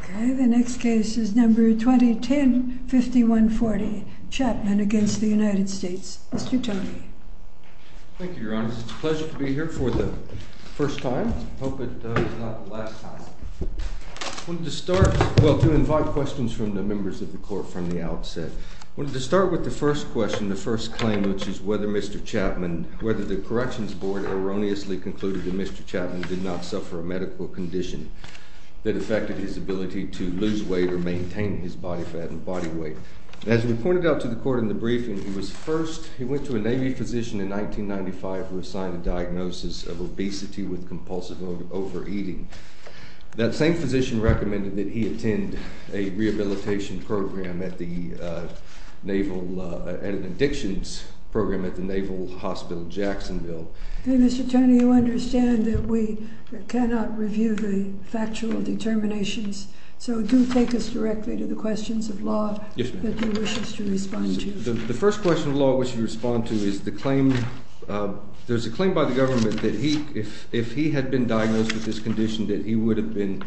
OK, the next case is number 2010-5140, Chapman against the United States. Mr. Tony. Thank you, Your Honor. It's a pleasure to be here for the first time. I hope it's not the last time. I wanted to start, well, to invite questions from the members of the court from the outset. I wanted to start with the first question, the first claim, which is whether Mr. Chapman, whether the Corrections Board erroneously concluded that Mr. Chapman did not affect his ability to lose weight or maintain his body fat and body weight. As we pointed out to the court in the briefing, he was first, he went to a Navy physician in 1995 who assigned a diagnosis of obesity with compulsive overeating. That same physician recommended that he attend a rehabilitation program at the Naval, an addictions program at the Naval Hospital in Jacksonville. OK, Mr. Tony, you understand that we cannot review the factual determinations, so do take us directly to the questions of law that you wish us to respond to. The first question of law I wish you to respond to is the claim, there's a claim by the government that if he had been diagnosed with this condition that he would have been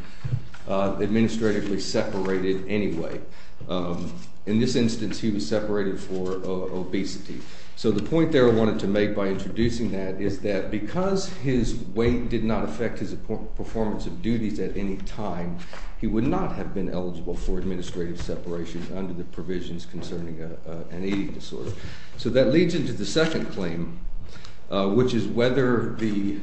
administratively separated anyway. In this instance, he was separated for obesity. So the point there I wanted to make by introducing that is that because his weight did not affect his performance of duties at any time, he would not have been eligible for administrative separation under the provisions concerning an eating disorder. So that leads into the second claim, which is whether the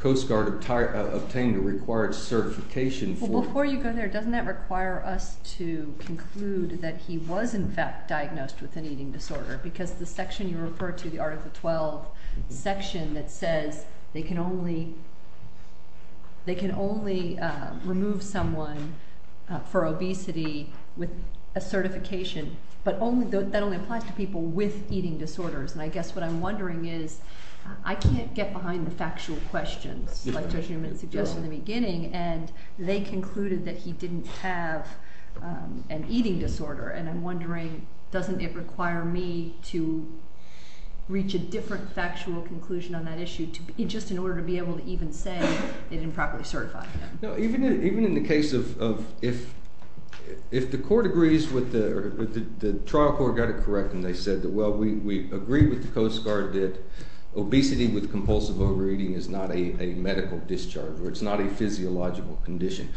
Coast Guard obtained a required certification for it. Well, before you go there, doesn't that require us to conclude that he was in fact diagnosed with an eating disorder? Because the section you refer to, the Article 12 section, that says they can only remove someone for obesity with a certification, but that only applies to people with eating disorders. And I guess what I'm wondering is, I can't get behind the factual questions, like Judge Newman suggested in the beginning, and they concluded that he didn't have an eating disorder. And I'm wondering, doesn't it require me to reach a different factual conclusion on that issue, just in order to be able to even say they didn't properly certify him? No, even in the case of if the court agrees with the trial court got it correct, and they said that, well, we agree with the Coast Guard that obesity with compulsive overeating is not a medical discharge, or it's not a physiological condition.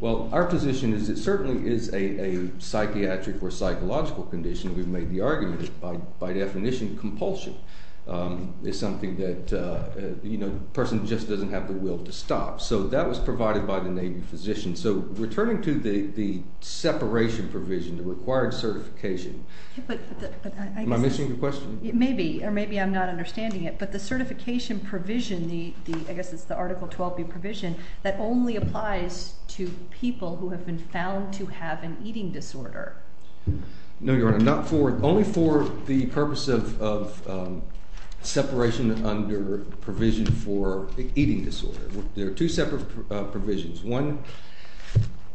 Well, our position is it certainly is a psychiatric or psychological condition. We've made the argument that, by definition, compulsion is something that a person just doesn't have the will to stop. So that was provided by the Navy physician. So returning to the separation provision, the required certification, am I missing your question? Maybe, or maybe I'm not understanding it. But the certification provision, I guess it's the Article 12b provision, that only applies to people who have been found to have an eating disorder. No, Your Honor, only for the purpose of separation under provision for eating disorder. There are two separate provisions. One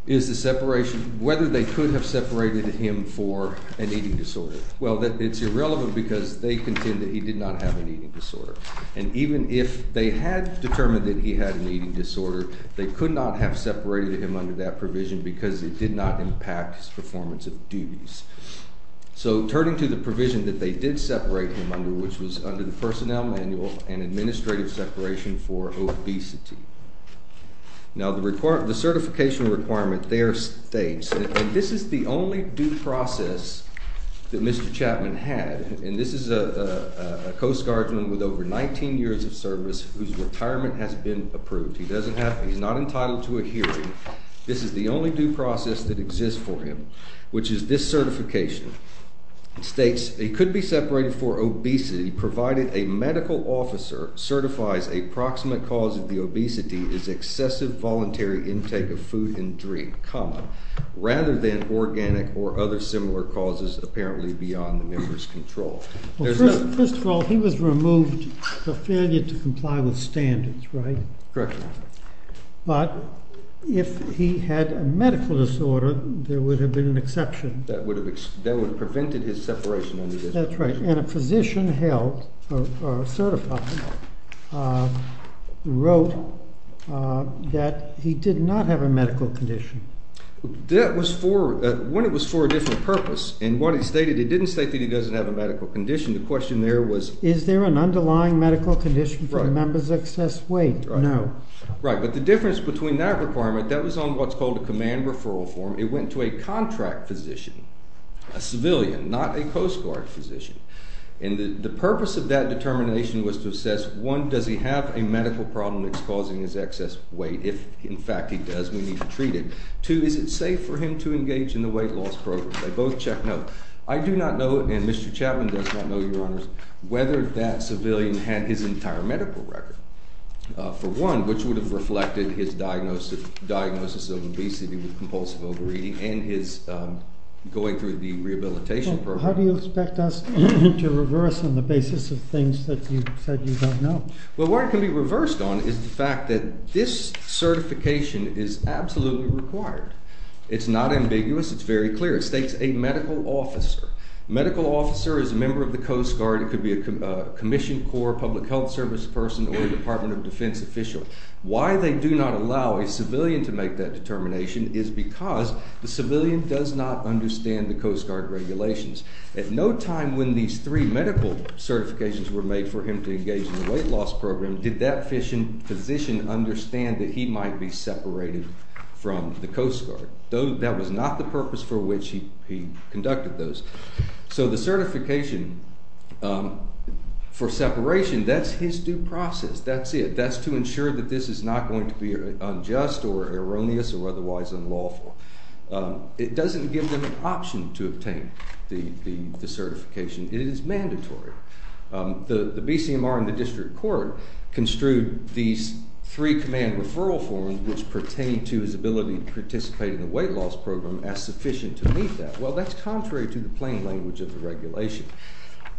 is the separation, whether they could have separated him for an eating disorder. Well, it's irrelevant, because they contend that he did not have an eating disorder. And even if they had determined that he had an eating disorder, they could not have separated him under that provision, because it did not impact his performance of duties. So turning to the provision that they did separate him under, which was under the Personnel Manual and Administrative Separation for Obesity. Now, the certification requirement there states, and this is the only due process that Mr. Chapman had, and this is a Coast Guardsman with over 19 years of service whose retirement has been approved. He's not entitled to a hearing. This is the only due process that exists for him, which is this certification. It states, he could be separated for obesity, provided a medical officer certifies a proximate cause of the obesity is excessive voluntary intake of food and drink, common, rather than organic or other similar causes, apparently beyond the member's control. First of all, he was removed for failure to comply with standards, right? Correct. But if he had a medical disorder, there would have been an exception. That would have prevented his separation under this provision. That's right. And a physician held, or certified, wrote that he did not have a medical condition. That was for, when it was for a different purpose, and what it stated, it didn't state that he doesn't have a medical condition. The question there was, is there an underlying medical condition for a member's excess weight? No. Right, but the difference between that requirement, that was on what's called a command referral form. It went to a contract physician, a civilian, not a Coast Guard physician. And the purpose of that determination was to assess, one, does he have a medical problem that's causing his excess weight? If, in fact, he does, we need to treat it. Two, is it safe for him to engage in the weight loss program? They both check no. I do not know, and Mr. Chapman does not know, your honors, whether that civilian had his entire medical record. For one, which would have reflected his diagnosis of obesity with compulsive overeating, and his going through the rehabilitation program. How do you expect us to reverse on the basis of things that you said you don't know? Well, where it can be reversed on is the fact that this certification is absolutely required. It's not ambiguous. It's very clear. It states a medical officer. Medical officer is a member of the Coast Guard. It could be a Commissioned Corps, Public Health Service person, or a Department of Defense official. Why they do not allow a civilian to make that determination is because the civilian does not understand the Coast Guard regulations. At no time when these three medical certifications were made for him to engage in the weight loss program did that physician understand that he might be separated from the Coast Guard. That was not the purpose for which he conducted those. So the certification for separation, that's his due process. That's it. That's to ensure that this is not going to be unjust or erroneous or otherwise unlawful. It doesn't give them an option to obtain the certification. It is mandatory. The BCMR and the district court construed these three command referral forms which pertain to his ability to participate in the weight loss program as sufficient to meet that. Well, that's contrary to the plain language of the regulation.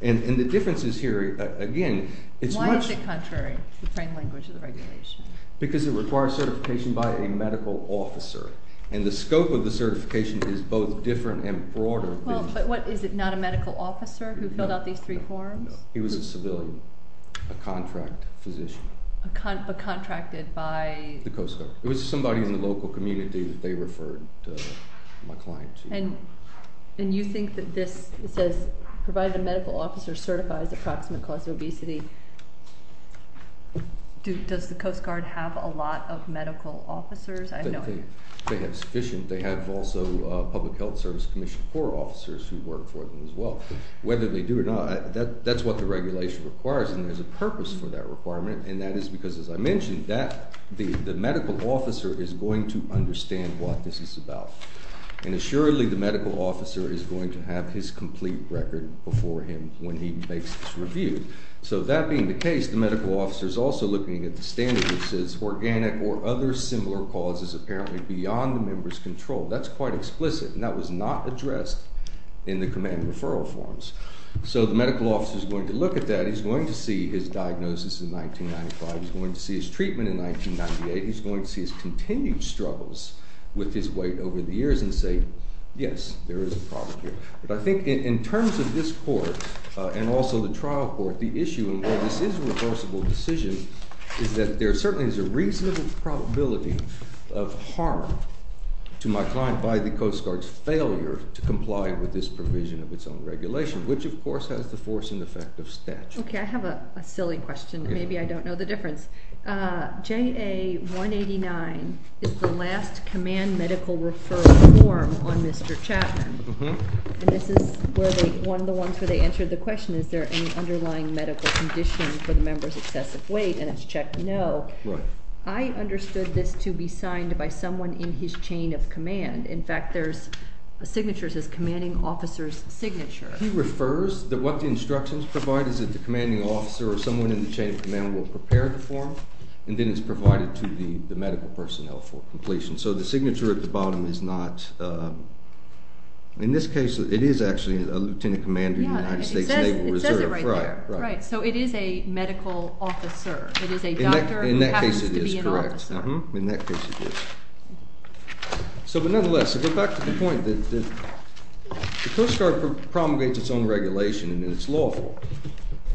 And the difference is here, again, it's much. Why is it contrary to the plain language of the regulation? Because it requires certification by a medical officer. And the scope of the certification is both different and broader than just. But what, is it not a medical officer who filled out these three forms? No, he was a civilian, a contract physician. A contracted by? The Coast Guard. It was somebody in the local community that they referred my client to. And you think that this says, provided a medical officer certifies approximate cause of obesity, does the Coast Guard have a lot of medical officers? I don't know. They have sufficient. They have also public health service commission corps officers who work for them as well. Whether they do or not, that's what the regulation requires. And there's a purpose for that requirement. And that is because, as I mentioned, the medical officer is going to understand what this is about. And assuredly, the medical officer is going to have his complete record before him when he makes his review. So that being the case, the medical officer is also looking at the standard, which says organic or other similar causes apparently beyond the member's control. That's quite explicit. And that was not addressed in the command and referral forms. So the medical officer is going to look at that. He's going to see his diagnosis in 1995. He's going to see his treatment in 1998. He's going to see his continued struggles with his weight over the years and say, yes, there is a problem here. But I think in terms of this court and also the trial court, the issue in where this is a reversible decision is that there certainly is a reasonable probability of harm to my client by the Coast Guard's failure to comply with this provision of its own regulation, which of course has the force and effect of statute. OK, I have a silly question that maybe I can make a difference. JA 189 is the last command medical referral form on Mr. Chapman. And this is one of the ones where they answered the question, is there any underlying medical condition for the member's excessive weight? And it's checked no. I understood this to be signed by someone in his chain of command. In fact, there's signatures as commanding officer's signature. He refers that what the instructions provide is that the commanding officer or someone in the chain of command will prepare the form. And then it's provided to the medical personnel for completion. So the signature at the bottom is not. In this case, it is actually a lieutenant commander in the United States Naval Reserve. It says it right there. Right. So it is a medical officer. It is a doctor who happens to be an officer. In that case, it is correct. In that case, it is. So nonetheless, to go back to the point that the Coast Guard promulgates its own regulation and it's lawful.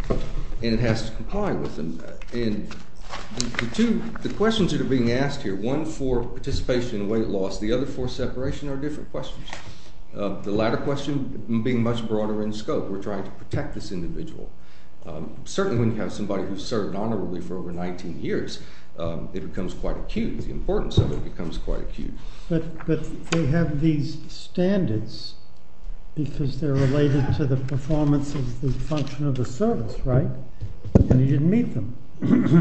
And it has to comply with them. And the questions that are being asked here, one for participation in weight loss, the other for separation, are different questions. The latter question being much broader in scope. We're trying to protect this individual. Certainly when you have somebody who's served honorably for over 19 years, it becomes quite acute. The importance of it becomes quite acute. But they have these standards because they're related to the performance of the function of the service, right? And you didn't meet them.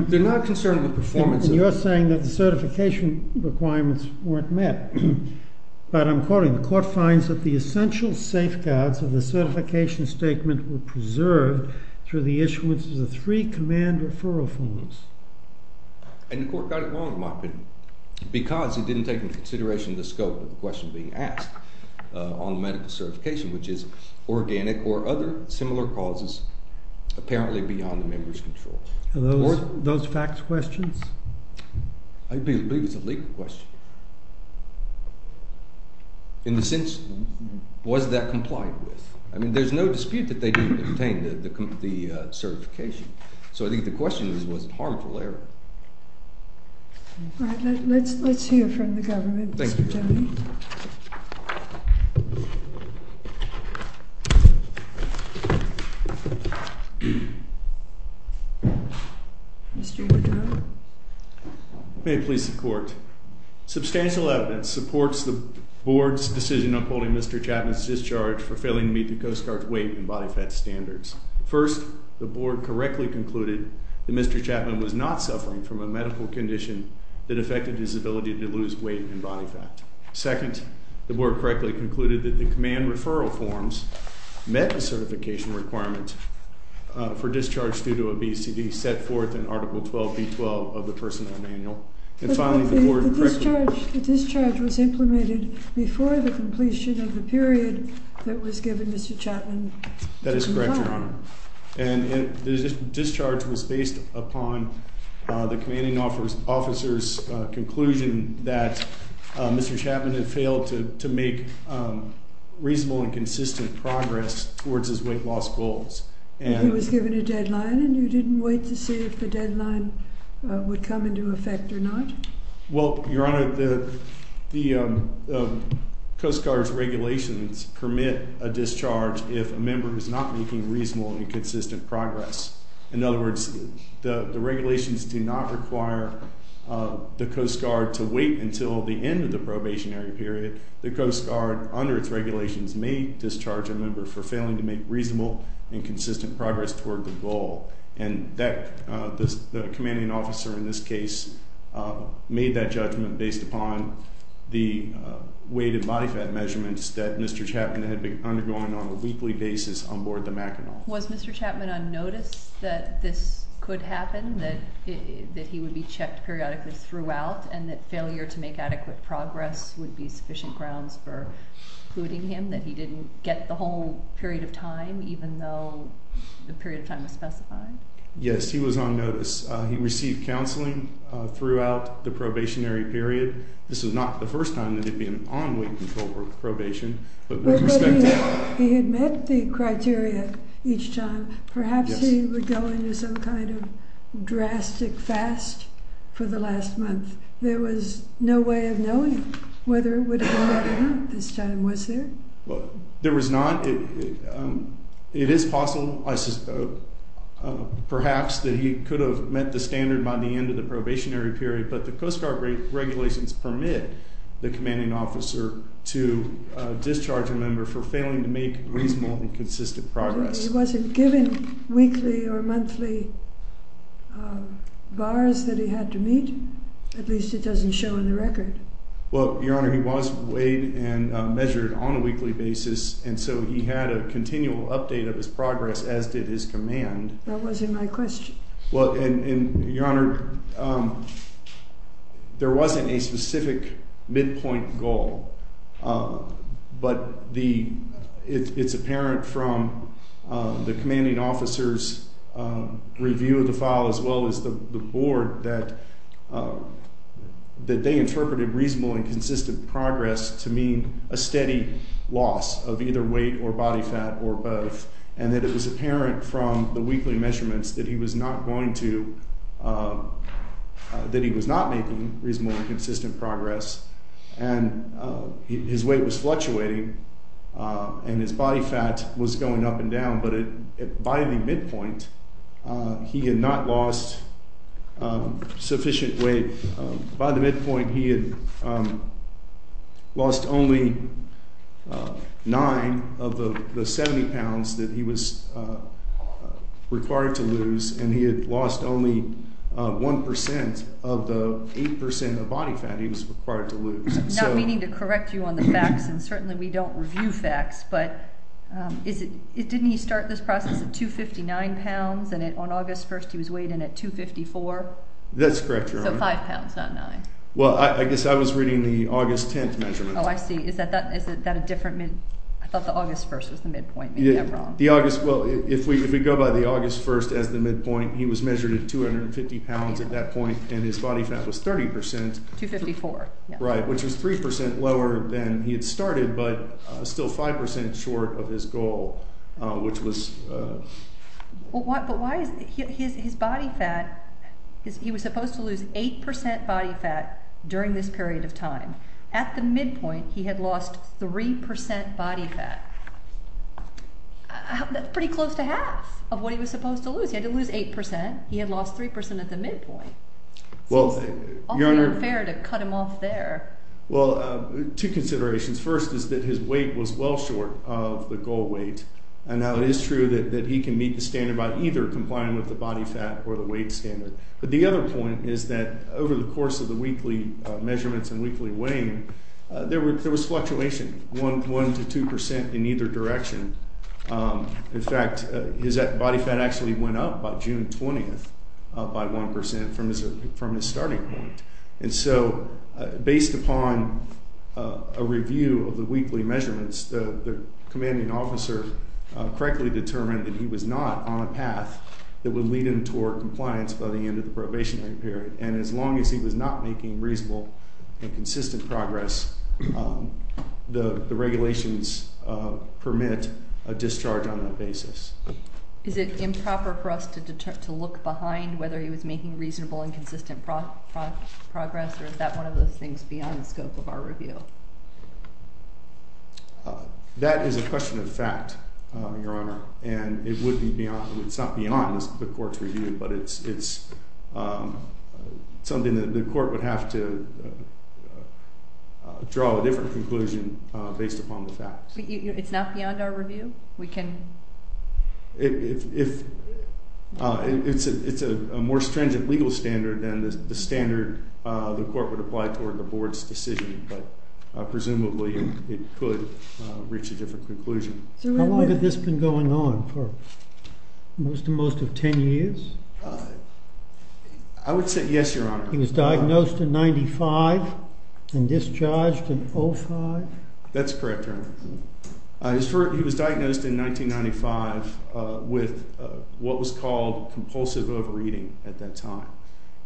They're not concerned with performance. And you're saying that the certification requirements weren't met. But I'm quoting, the court finds that the essential safeguards of the certification statement were preserved through the issuance of the three command referral forms. And the court got it wrong, in my opinion, because it didn't take into consideration the scope of the question being asked on medical certification, which is organic or other similar causes, apparently beyond the member's control. Those facts questions? I believe it's a legal question, in the sense, was that complied with? I mean, there's no dispute that they didn't contain the certification. So I think the question is, was it harmful error? All right, let's hear from the government. Thank you. Thank you. Mr. Woodrow. May it please the court. Substantial evidence supports the board's decision on holding Mr. Chapman's discharge for failing to meet the Coast Guard's weight and body fat standards. First, the board correctly concluded that Mr. Chapman was not suffering from a medical condition that affected his ability to lose weight and body fat. Second, the board correctly concluded that the command referral forms met the certification requirement for discharge due to a BCD set forth in Article 12b12 of the personnel manual. And finally, the board correctly The discharge was implemented before the completion of the period that was given Mr. Chapman. That is correct, Your Honor. And the discharge was based upon the commanding officer's conclusion that Mr. Chapman had failed to make reasonable and consistent progress towards his weight loss goals. And he was given a deadline, and you didn't wait to see if the deadline would come into effect or not? Well, Your Honor, the Coast Guard's regulations permit a discharge if a member is not making reasonable and consistent progress. In other words, the regulations do not require the Coast Guard to wait until the end of the probationary period. The Coast Guard, under its regulations, may discharge a member for failing to make reasonable and consistent progress toward the goal. And the commanding officer in this case made that judgment based upon the weight and body fat measurements that Mr. Chapman had been undergoing on a weekly basis on board the Mackinac. Was Mr. Chapman on notice that this could happen, that he would be checked periodically throughout, and that failure to make adequate progress would be sufficient grounds for including him, that he didn't get the whole period of time, even though the period of time was specified? Yes, he was on notice. He received counseling throughout the probationary period. This was not the first time that he'd been on weight control probation, but with respect to that. He had met the criteria each time. Perhaps he would go into some kind of drastic fast for the last month. There was no way of knowing whether it would have gone up or not this time, was there? There was not. It is possible, perhaps, that he could have met the standard by the end of the probationary period. But the Coast Guard regulations permit the commanding officer to discharge a member for failing to make reasonable and consistent progress. He wasn't given weekly or monthly bars that he had to meet? At least it doesn't show in the record. Well, Your Honor, he was weighed and measured on a weekly basis. And so he had a continual update of his progress, as did his command. That wasn't my question. Well, Your Honor, there wasn't a specific midpoint goal. But it's apparent from the commanding officer's review of the file, as well as the board, that they interpreted reasonable and consistent progress to mean a steady loss of either weight or body fat or both. And that it was apparent from the weekly measurements that he was not going to, that he was not making reasonable and consistent progress. And his weight was fluctuating. And his body fat was going up and down. But by the midpoint, he had not lost sufficient weight. By the midpoint, he had lost only 9 of the 70 pounds that he was required to lose. And he had lost only 1% of the 8% of body fat he was required to lose. I'm not meaning to correct you on the facts. And certainly, we don't review facts. But didn't he start this process at 259 pounds? And on August 1st, he was weighed in at 254? That's correct, Your Honor. So 5 pounds, not 9. Well, I guess I was reading the August 10th measurement. Oh, I see. Is that a different mid? I thought the August 1st was the midpoint. Maybe I'm wrong. The August, well, if we go by the August 1st as the midpoint, he was measured at 250 pounds at that point. And his body fat was 30%. 254. Right, which was 3% lower than he had started, but still 5% short of his goal, which was. But why is his body fat, he was supposed to lose 8% body fat during this period of time. At the midpoint, he had lost 3% body fat. Pretty close to half of what he was supposed to lose. He had to lose 8%. He had lost 3% at the midpoint. Well, Your Honor. So it's awfully unfair to cut him off there. Well, two considerations. First is that his weight was well short of the goal weight. And now it is true that he can meet the standard by either complying with the body fat or the weight standard. But the other point is that over the course of the weekly measurements and weekly weighing, there was fluctuation, 1% to 2% in either direction. In fact, his body fat actually went up by June 20th by 1% from his starting point. And so based upon a review of the weekly measurements, the commanding officer correctly determined that he was not on a path that would lead him toward compliance by the end of the probationary period. And as long as he was not making reasonable and consistent progress, the regulations permit a discharge on that basis. Is it improper for us to look behind whether he was making reasonable and consistent progress? Or is that one of those things beyond the scope of our review? That is a question of fact, Your Honor. And it's not beyond the court's review. But it's something that the court would have to draw a different conclusion based upon the fact. It's not beyond our review? We can? If it's a more stringent legal standard than the standard the court would apply toward the board's decision. But presumably, it could reach a different conclusion. How long had this been going on for? Most to most of 10 years? I would say yes, Your Honor. He was diagnosed in 95 and discharged in 05? That's correct, Your Honor. He was diagnosed in 1995 with what was called compulsive overeating at that time.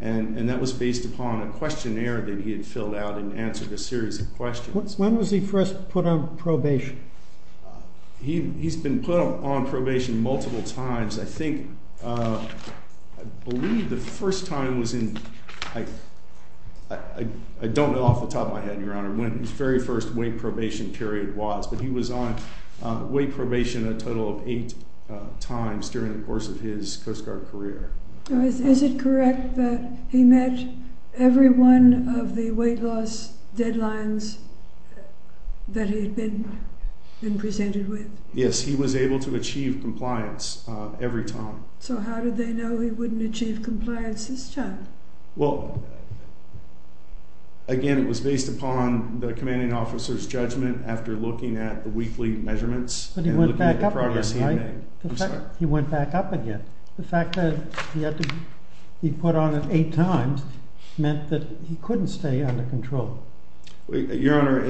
And that was based upon a questionnaire that he had filled out and answered a series of questions. When was he first put on probation? He's been put on probation multiple times. I think, I believe the first time was in, I don't know off the top of my head, Your Honor, when his very first weight probation period was. But he was on weight probation a total of eight times during the course of his Coast Guard career. Is it correct that he met every one of the weight loss deadlines that he had been presented with? Yes, he was able to achieve compliance every time. So how did they know he wouldn't achieve compliance this time? Well, again, it was based upon the commanding officer's judgment after looking at the weekly measurements and looking at the progress he made. But he went back up again, right? He went back up again. The fact that he had to be put on it eight times meant that he couldn't stay under control. Your Honor,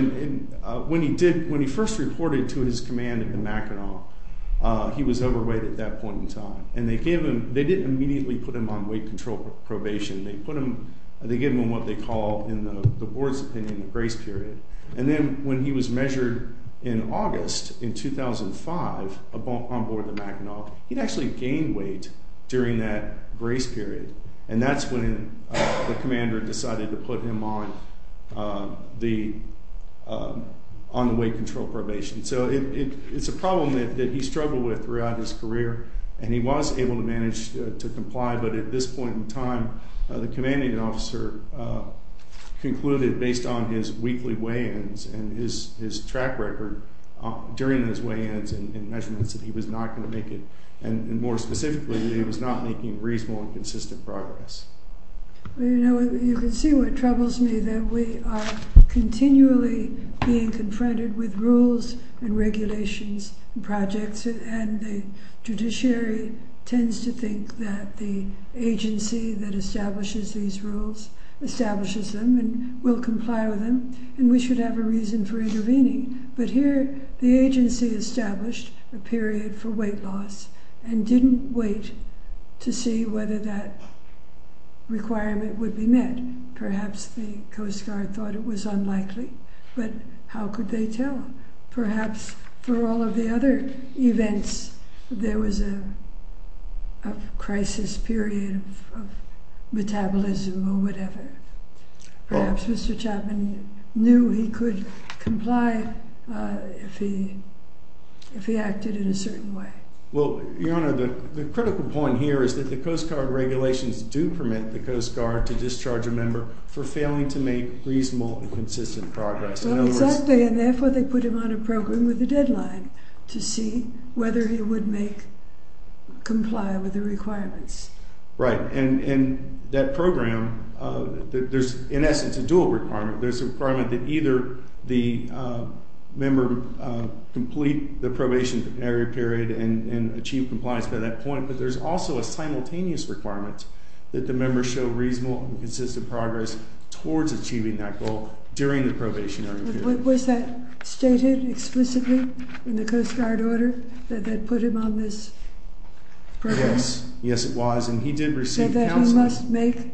when he first reported to his command at the Mackinac, he was overweight at that point in time. And they didn't immediately put him on weight control probation. They put him, they gave him what they call in the board's opinion, a grace period. And then when he was measured in August in 2005 on board the Mackinac, he'd actually gained weight during that grace period. And that's when the commander decided to put him on the weight control probation. So it's a problem that he struggled with throughout his career. And he was able to manage to comply. But at this point in time, the commanding officer concluded, based on his weekly weigh-ins and his track record during his weigh-ins and measurements, that he was not going to make it. And more specifically, that he was not making reasonable and consistent progress. Well, you know, you can see what troubles me, that we are continually being confronted with rules and regulations and projects. And the judiciary tends to think that the agency that establishes these rules establishes them and will comply with them. And we should have a reason for intervening. But here, the agency established a period for weight loss and didn't wait to see whether that requirement would be met. Perhaps the Coast Guard thought it was unlikely. But how could they tell? Perhaps for all of the other events, there was a crisis period of metabolism or whatever. Perhaps Mr. Chapman knew he could comply if he acted in a certain way. Well, Your Honor, the critical point here is that the Coast Guard regulations do permit the Coast Guard to discharge a member for failing to make reasonable and consistent progress. Well, exactly. And therefore, they put him on a program with a deadline to see whether he would comply with the requirements. Right, and that program, there's in essence a dual requirement. There's a requirement that either the member complete the probationary period and achieve compliance by that point. But there's also a simultaneous requirement that the member show reasonable and consistent progress towards achieving that goal during the probationary period. Was that stated explicitly in the Coast Guard order that they put him on this program? Yes. Yes, it was. And he did receive counseling. So that he must make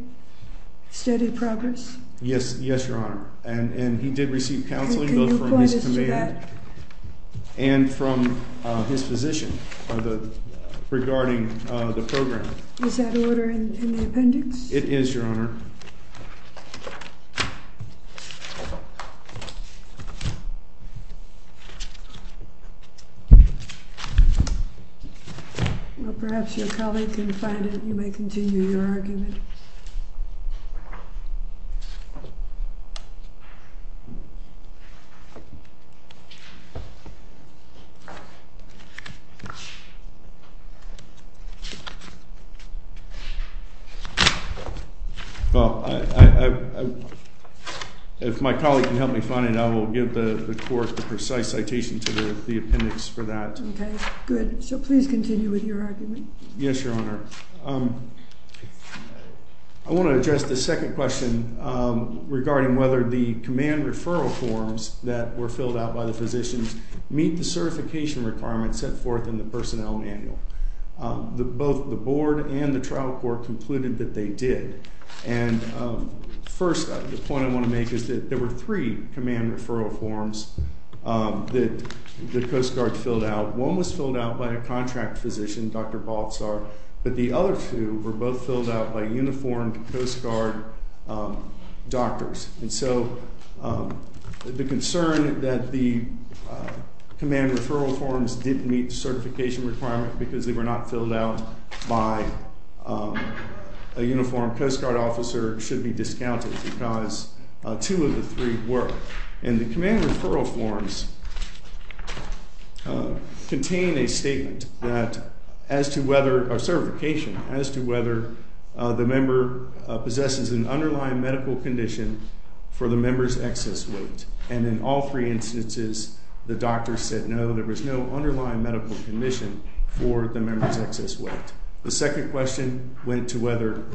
steady progress? Yes, Your Honor. And he did receive counseling both from his command and from his physician regarding the program. Is that order in the appendix? It is, Your Honor. Well, perhaps your colleague can find it. You may continue your argument. Well, if my colleague can help me find it, I will continue my argument. I'll give the court the precise citation to the appendix for that. OK, good. So please continue with your argument. Yes, Your Honor. I want to address the second question regarding whether the command referral forms that were filled out by the physicians meet the certification requirements set forth in the personnel manual. Both the board and the trial court concluded that they did. And first, the point I want to make is that there were three command referral forms that the Coast Guard filled out. One was filled out by a contract physician, Dr. Baltzar. But the other two were both filled out by uniformed Coast Guard doctors. And so the concern that the command referral forms didn't meet the certification requirement because they were not filled out by a uniformed Coast Guard officer should be discounted because two of the three were. And the command referral forms contain a statement that as to whether a certification, as to whether the member possesses an underlying medical condition for the member's excess weight. And in all three instances, the doctor said no, there was no underlying medical condition for the member's excess weight. The second question went to whether it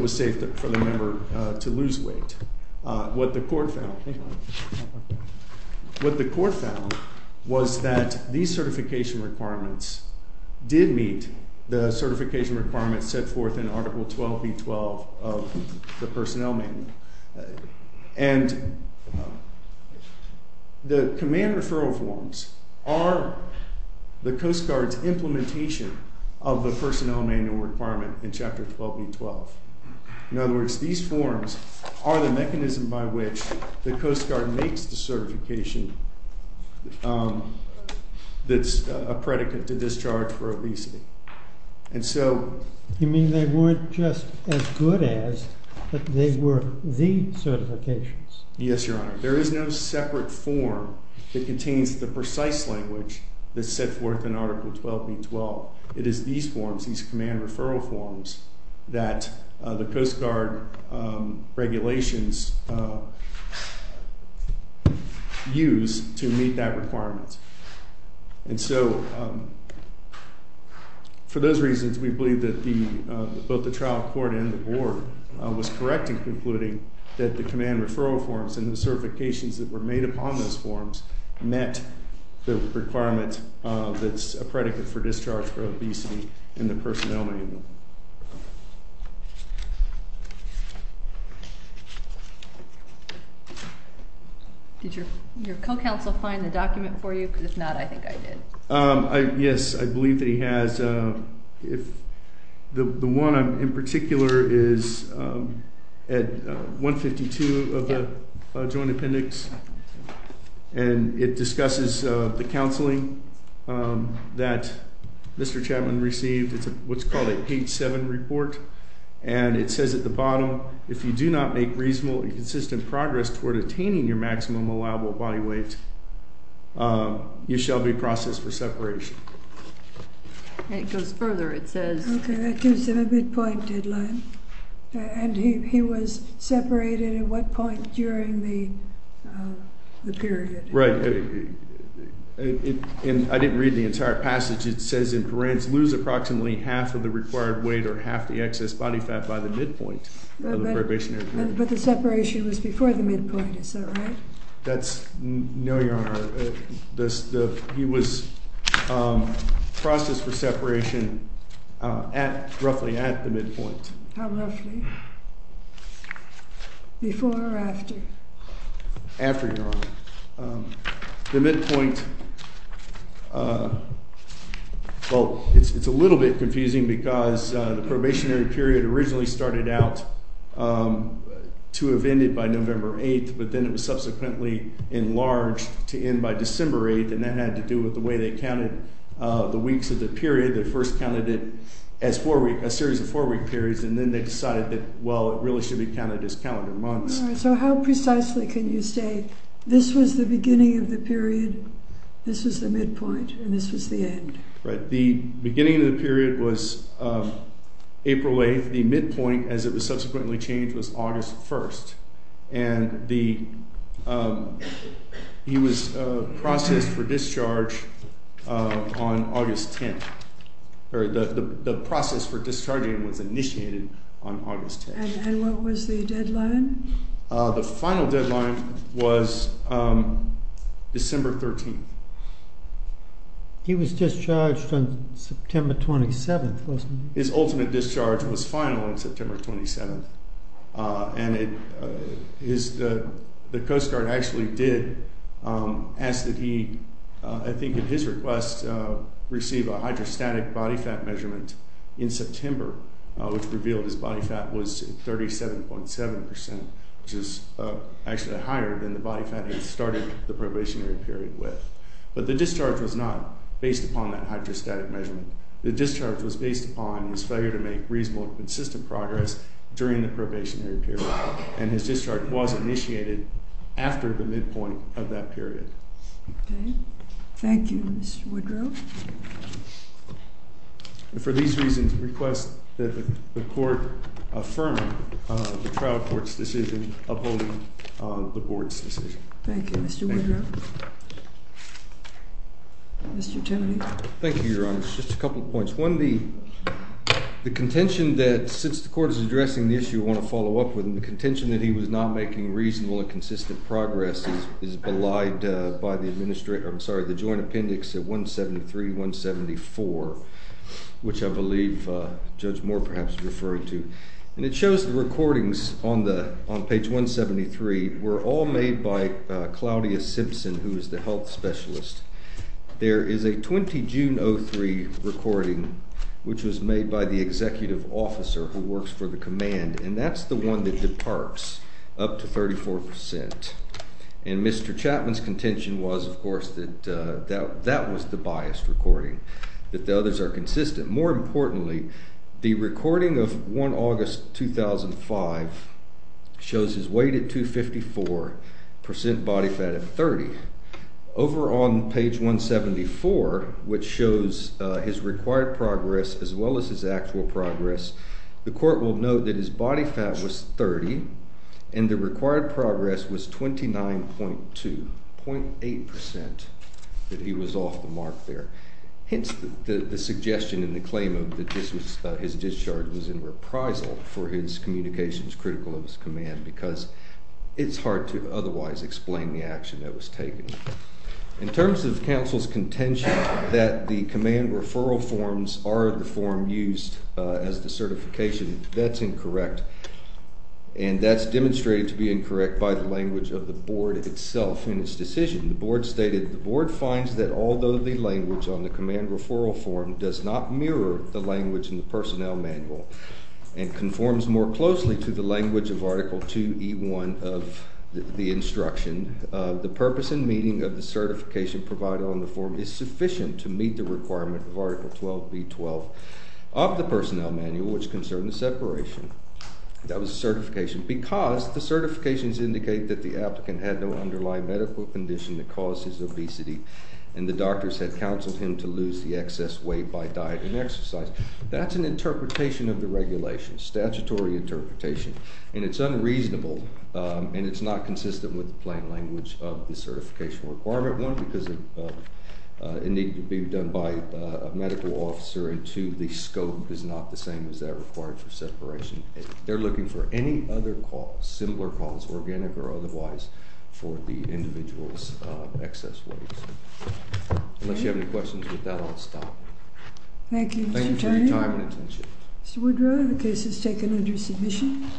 was safe for the member to lose weight. What the court found was that these certification requirements did meet the certification requirements set forth in Article 12b12 of the Personnel Manual. And the command referral forms are the Coast Guard's implementation of the Personnel Manual requirement in Chapter 12b12. In other words, these forms are the mechanism by which the Coast Guard makes the certification that's a predicate to discharge for obesity. And so you mean they weren't just as good as, but they were the certifications? Yes, Your Honor. There is no separate form that contains the precise language that's set forth in Article 12b12. It is these forms, these command referral forms, that the Coast Guard regulations use to meet that requirement. And so for those reasons, we believe that both the trial court and the board was correct in concluding that the command referral forms and the certifications that were made upon those forms met the requirement that's a predicate for discharge for obesity in the Personnel Manual. Did your co-counsel find the document for you? Because if not, I think I did. Yes, I believe that he has. The one in particular is at 152 of the Joint Appendix. And it discusses the counseling that Mr. Chapman received. It's what's called a patient-centered appendix. And it says at the bottom, if you do not make reasonable and consistent progress toward attaining your maximum allowable body weight, you shall be processed for separation. And it goes further. It says. OK, that gives him a midpoint deadline. And he was separated at what point during the period? Right. And I didn't read the entire passage. It says in parens, lose approximately half of the required weight or half the excess body fat by the midpoint of the probationary period. But the separation was before the midpoint, is that right? That's no, Your Honor. He was processed for separation roughly at the midpoint. How roughly? Before or after? After, Your Honor. The midpoint, well, it's a little bit confusing because the probationary period originally started out to have ended by November 8th. But then it was subsequently enlarged to end by December 8th. And that had to do with the way they counted the weeks of the period. They first counted it as a series of four-week periods. And then they decided that, well, it really should be counted as calendar months. So how precisely can you say, this was the beginning of the period, this was the midpoint, and this was the end? Right. The beginning of the period was April 8th. The midpoint, as it was subsequently changed, was August 1st. And he was processed for discharge on August 10th. Or the process for discharging was initiated on August 10th. And what was the deadline? The final deadline was December 13th. He was discharged on September 27th, wasn't he? His ultimate discharge was final on September 27th. And the Coast Guard actually did ask that he, I think, at his request, receive a hydrostatic body fat measurement in September, which revealed his body fat was 37.7%, which is actually higher than the body fat he started the probationary period with. But the discharge was not based upon that hydrostatic measurement. The discharge was based upon his failure to make reasonable and consistent progress during the probationary period. And his discharge was initiated after the midpoint of that period. Thank you, Mr. Woodrow. For these reasons, I request that the court affirm the trial court's decision upholding the board's decision. Thank you, Mr. Woodrow. Mr. Timoney. Thank you, Your Honor. Just a couple of points. The contention that, since the court is addressing the issue, I want to follow up with, and the contention that he was not making reasonable and consistent progress is belied by the joint appendix at 173, 174, which I believe Judge Moore, perhaps, is referring to. And it shows the recordings on page 173 were all made by Claudia Simpson, who is the health specialist. There is a 20 June 03 recording, which was made by the executive officer who works for the command. And that's the one that departs up to 34%. And Mr. Chapman's contention was, of course, that that was the biased recording, that the others are consistent. More importantly, the recording of 1 August 2005 shows his weight at 254, percent body fat at 30. Over on page 174, which shows his required progress, as well as his actual progress, the court will note that his body fat was 30, and the required progress was 29.2, 0.8% that he was off the mark there. Hence, the suggestion and the claim of that his discharge was in reprisal for his communications critical of his command, because it's hard to otherwise explain the action that was taken. In terms of the council's contention that the command referral forms are the form used as the certification, that's incorrect. And that's demonstrated to be incorrect by the language of the board itself in its decision. The board stated, the board finds that although the language on the command referral form does not mirror the language in the personnel manual and conforms more closely to the language of Article 2E1 of the instruction, the purpose and meaning of the certification provided on the form is sufficient to meet the requirement of Article 12B12 of the personnel manual, which concerned the separation. That was certification, because the certifications indicate that the applicant had no underlying medical condition that caused his obesity, and the doctors had counseled him to lose the excess weight by diet and exercise. That's an interpretation of the regulation, statutory interpretation. And it's unreasonable, and it's not consistent with the plain language of the certification requirement one, because it needed to be done by a medical officer. And two, the scope is not the same as that required for separation. They're looking for any other cause, similar cause, organic or otherwise, for the individual's excess weight. Unless you have any questions with that, I'll stop. Thank you, Mr. Attorney. Thank you for your time and attention. Mr. Woodrow, the case is taken under submission.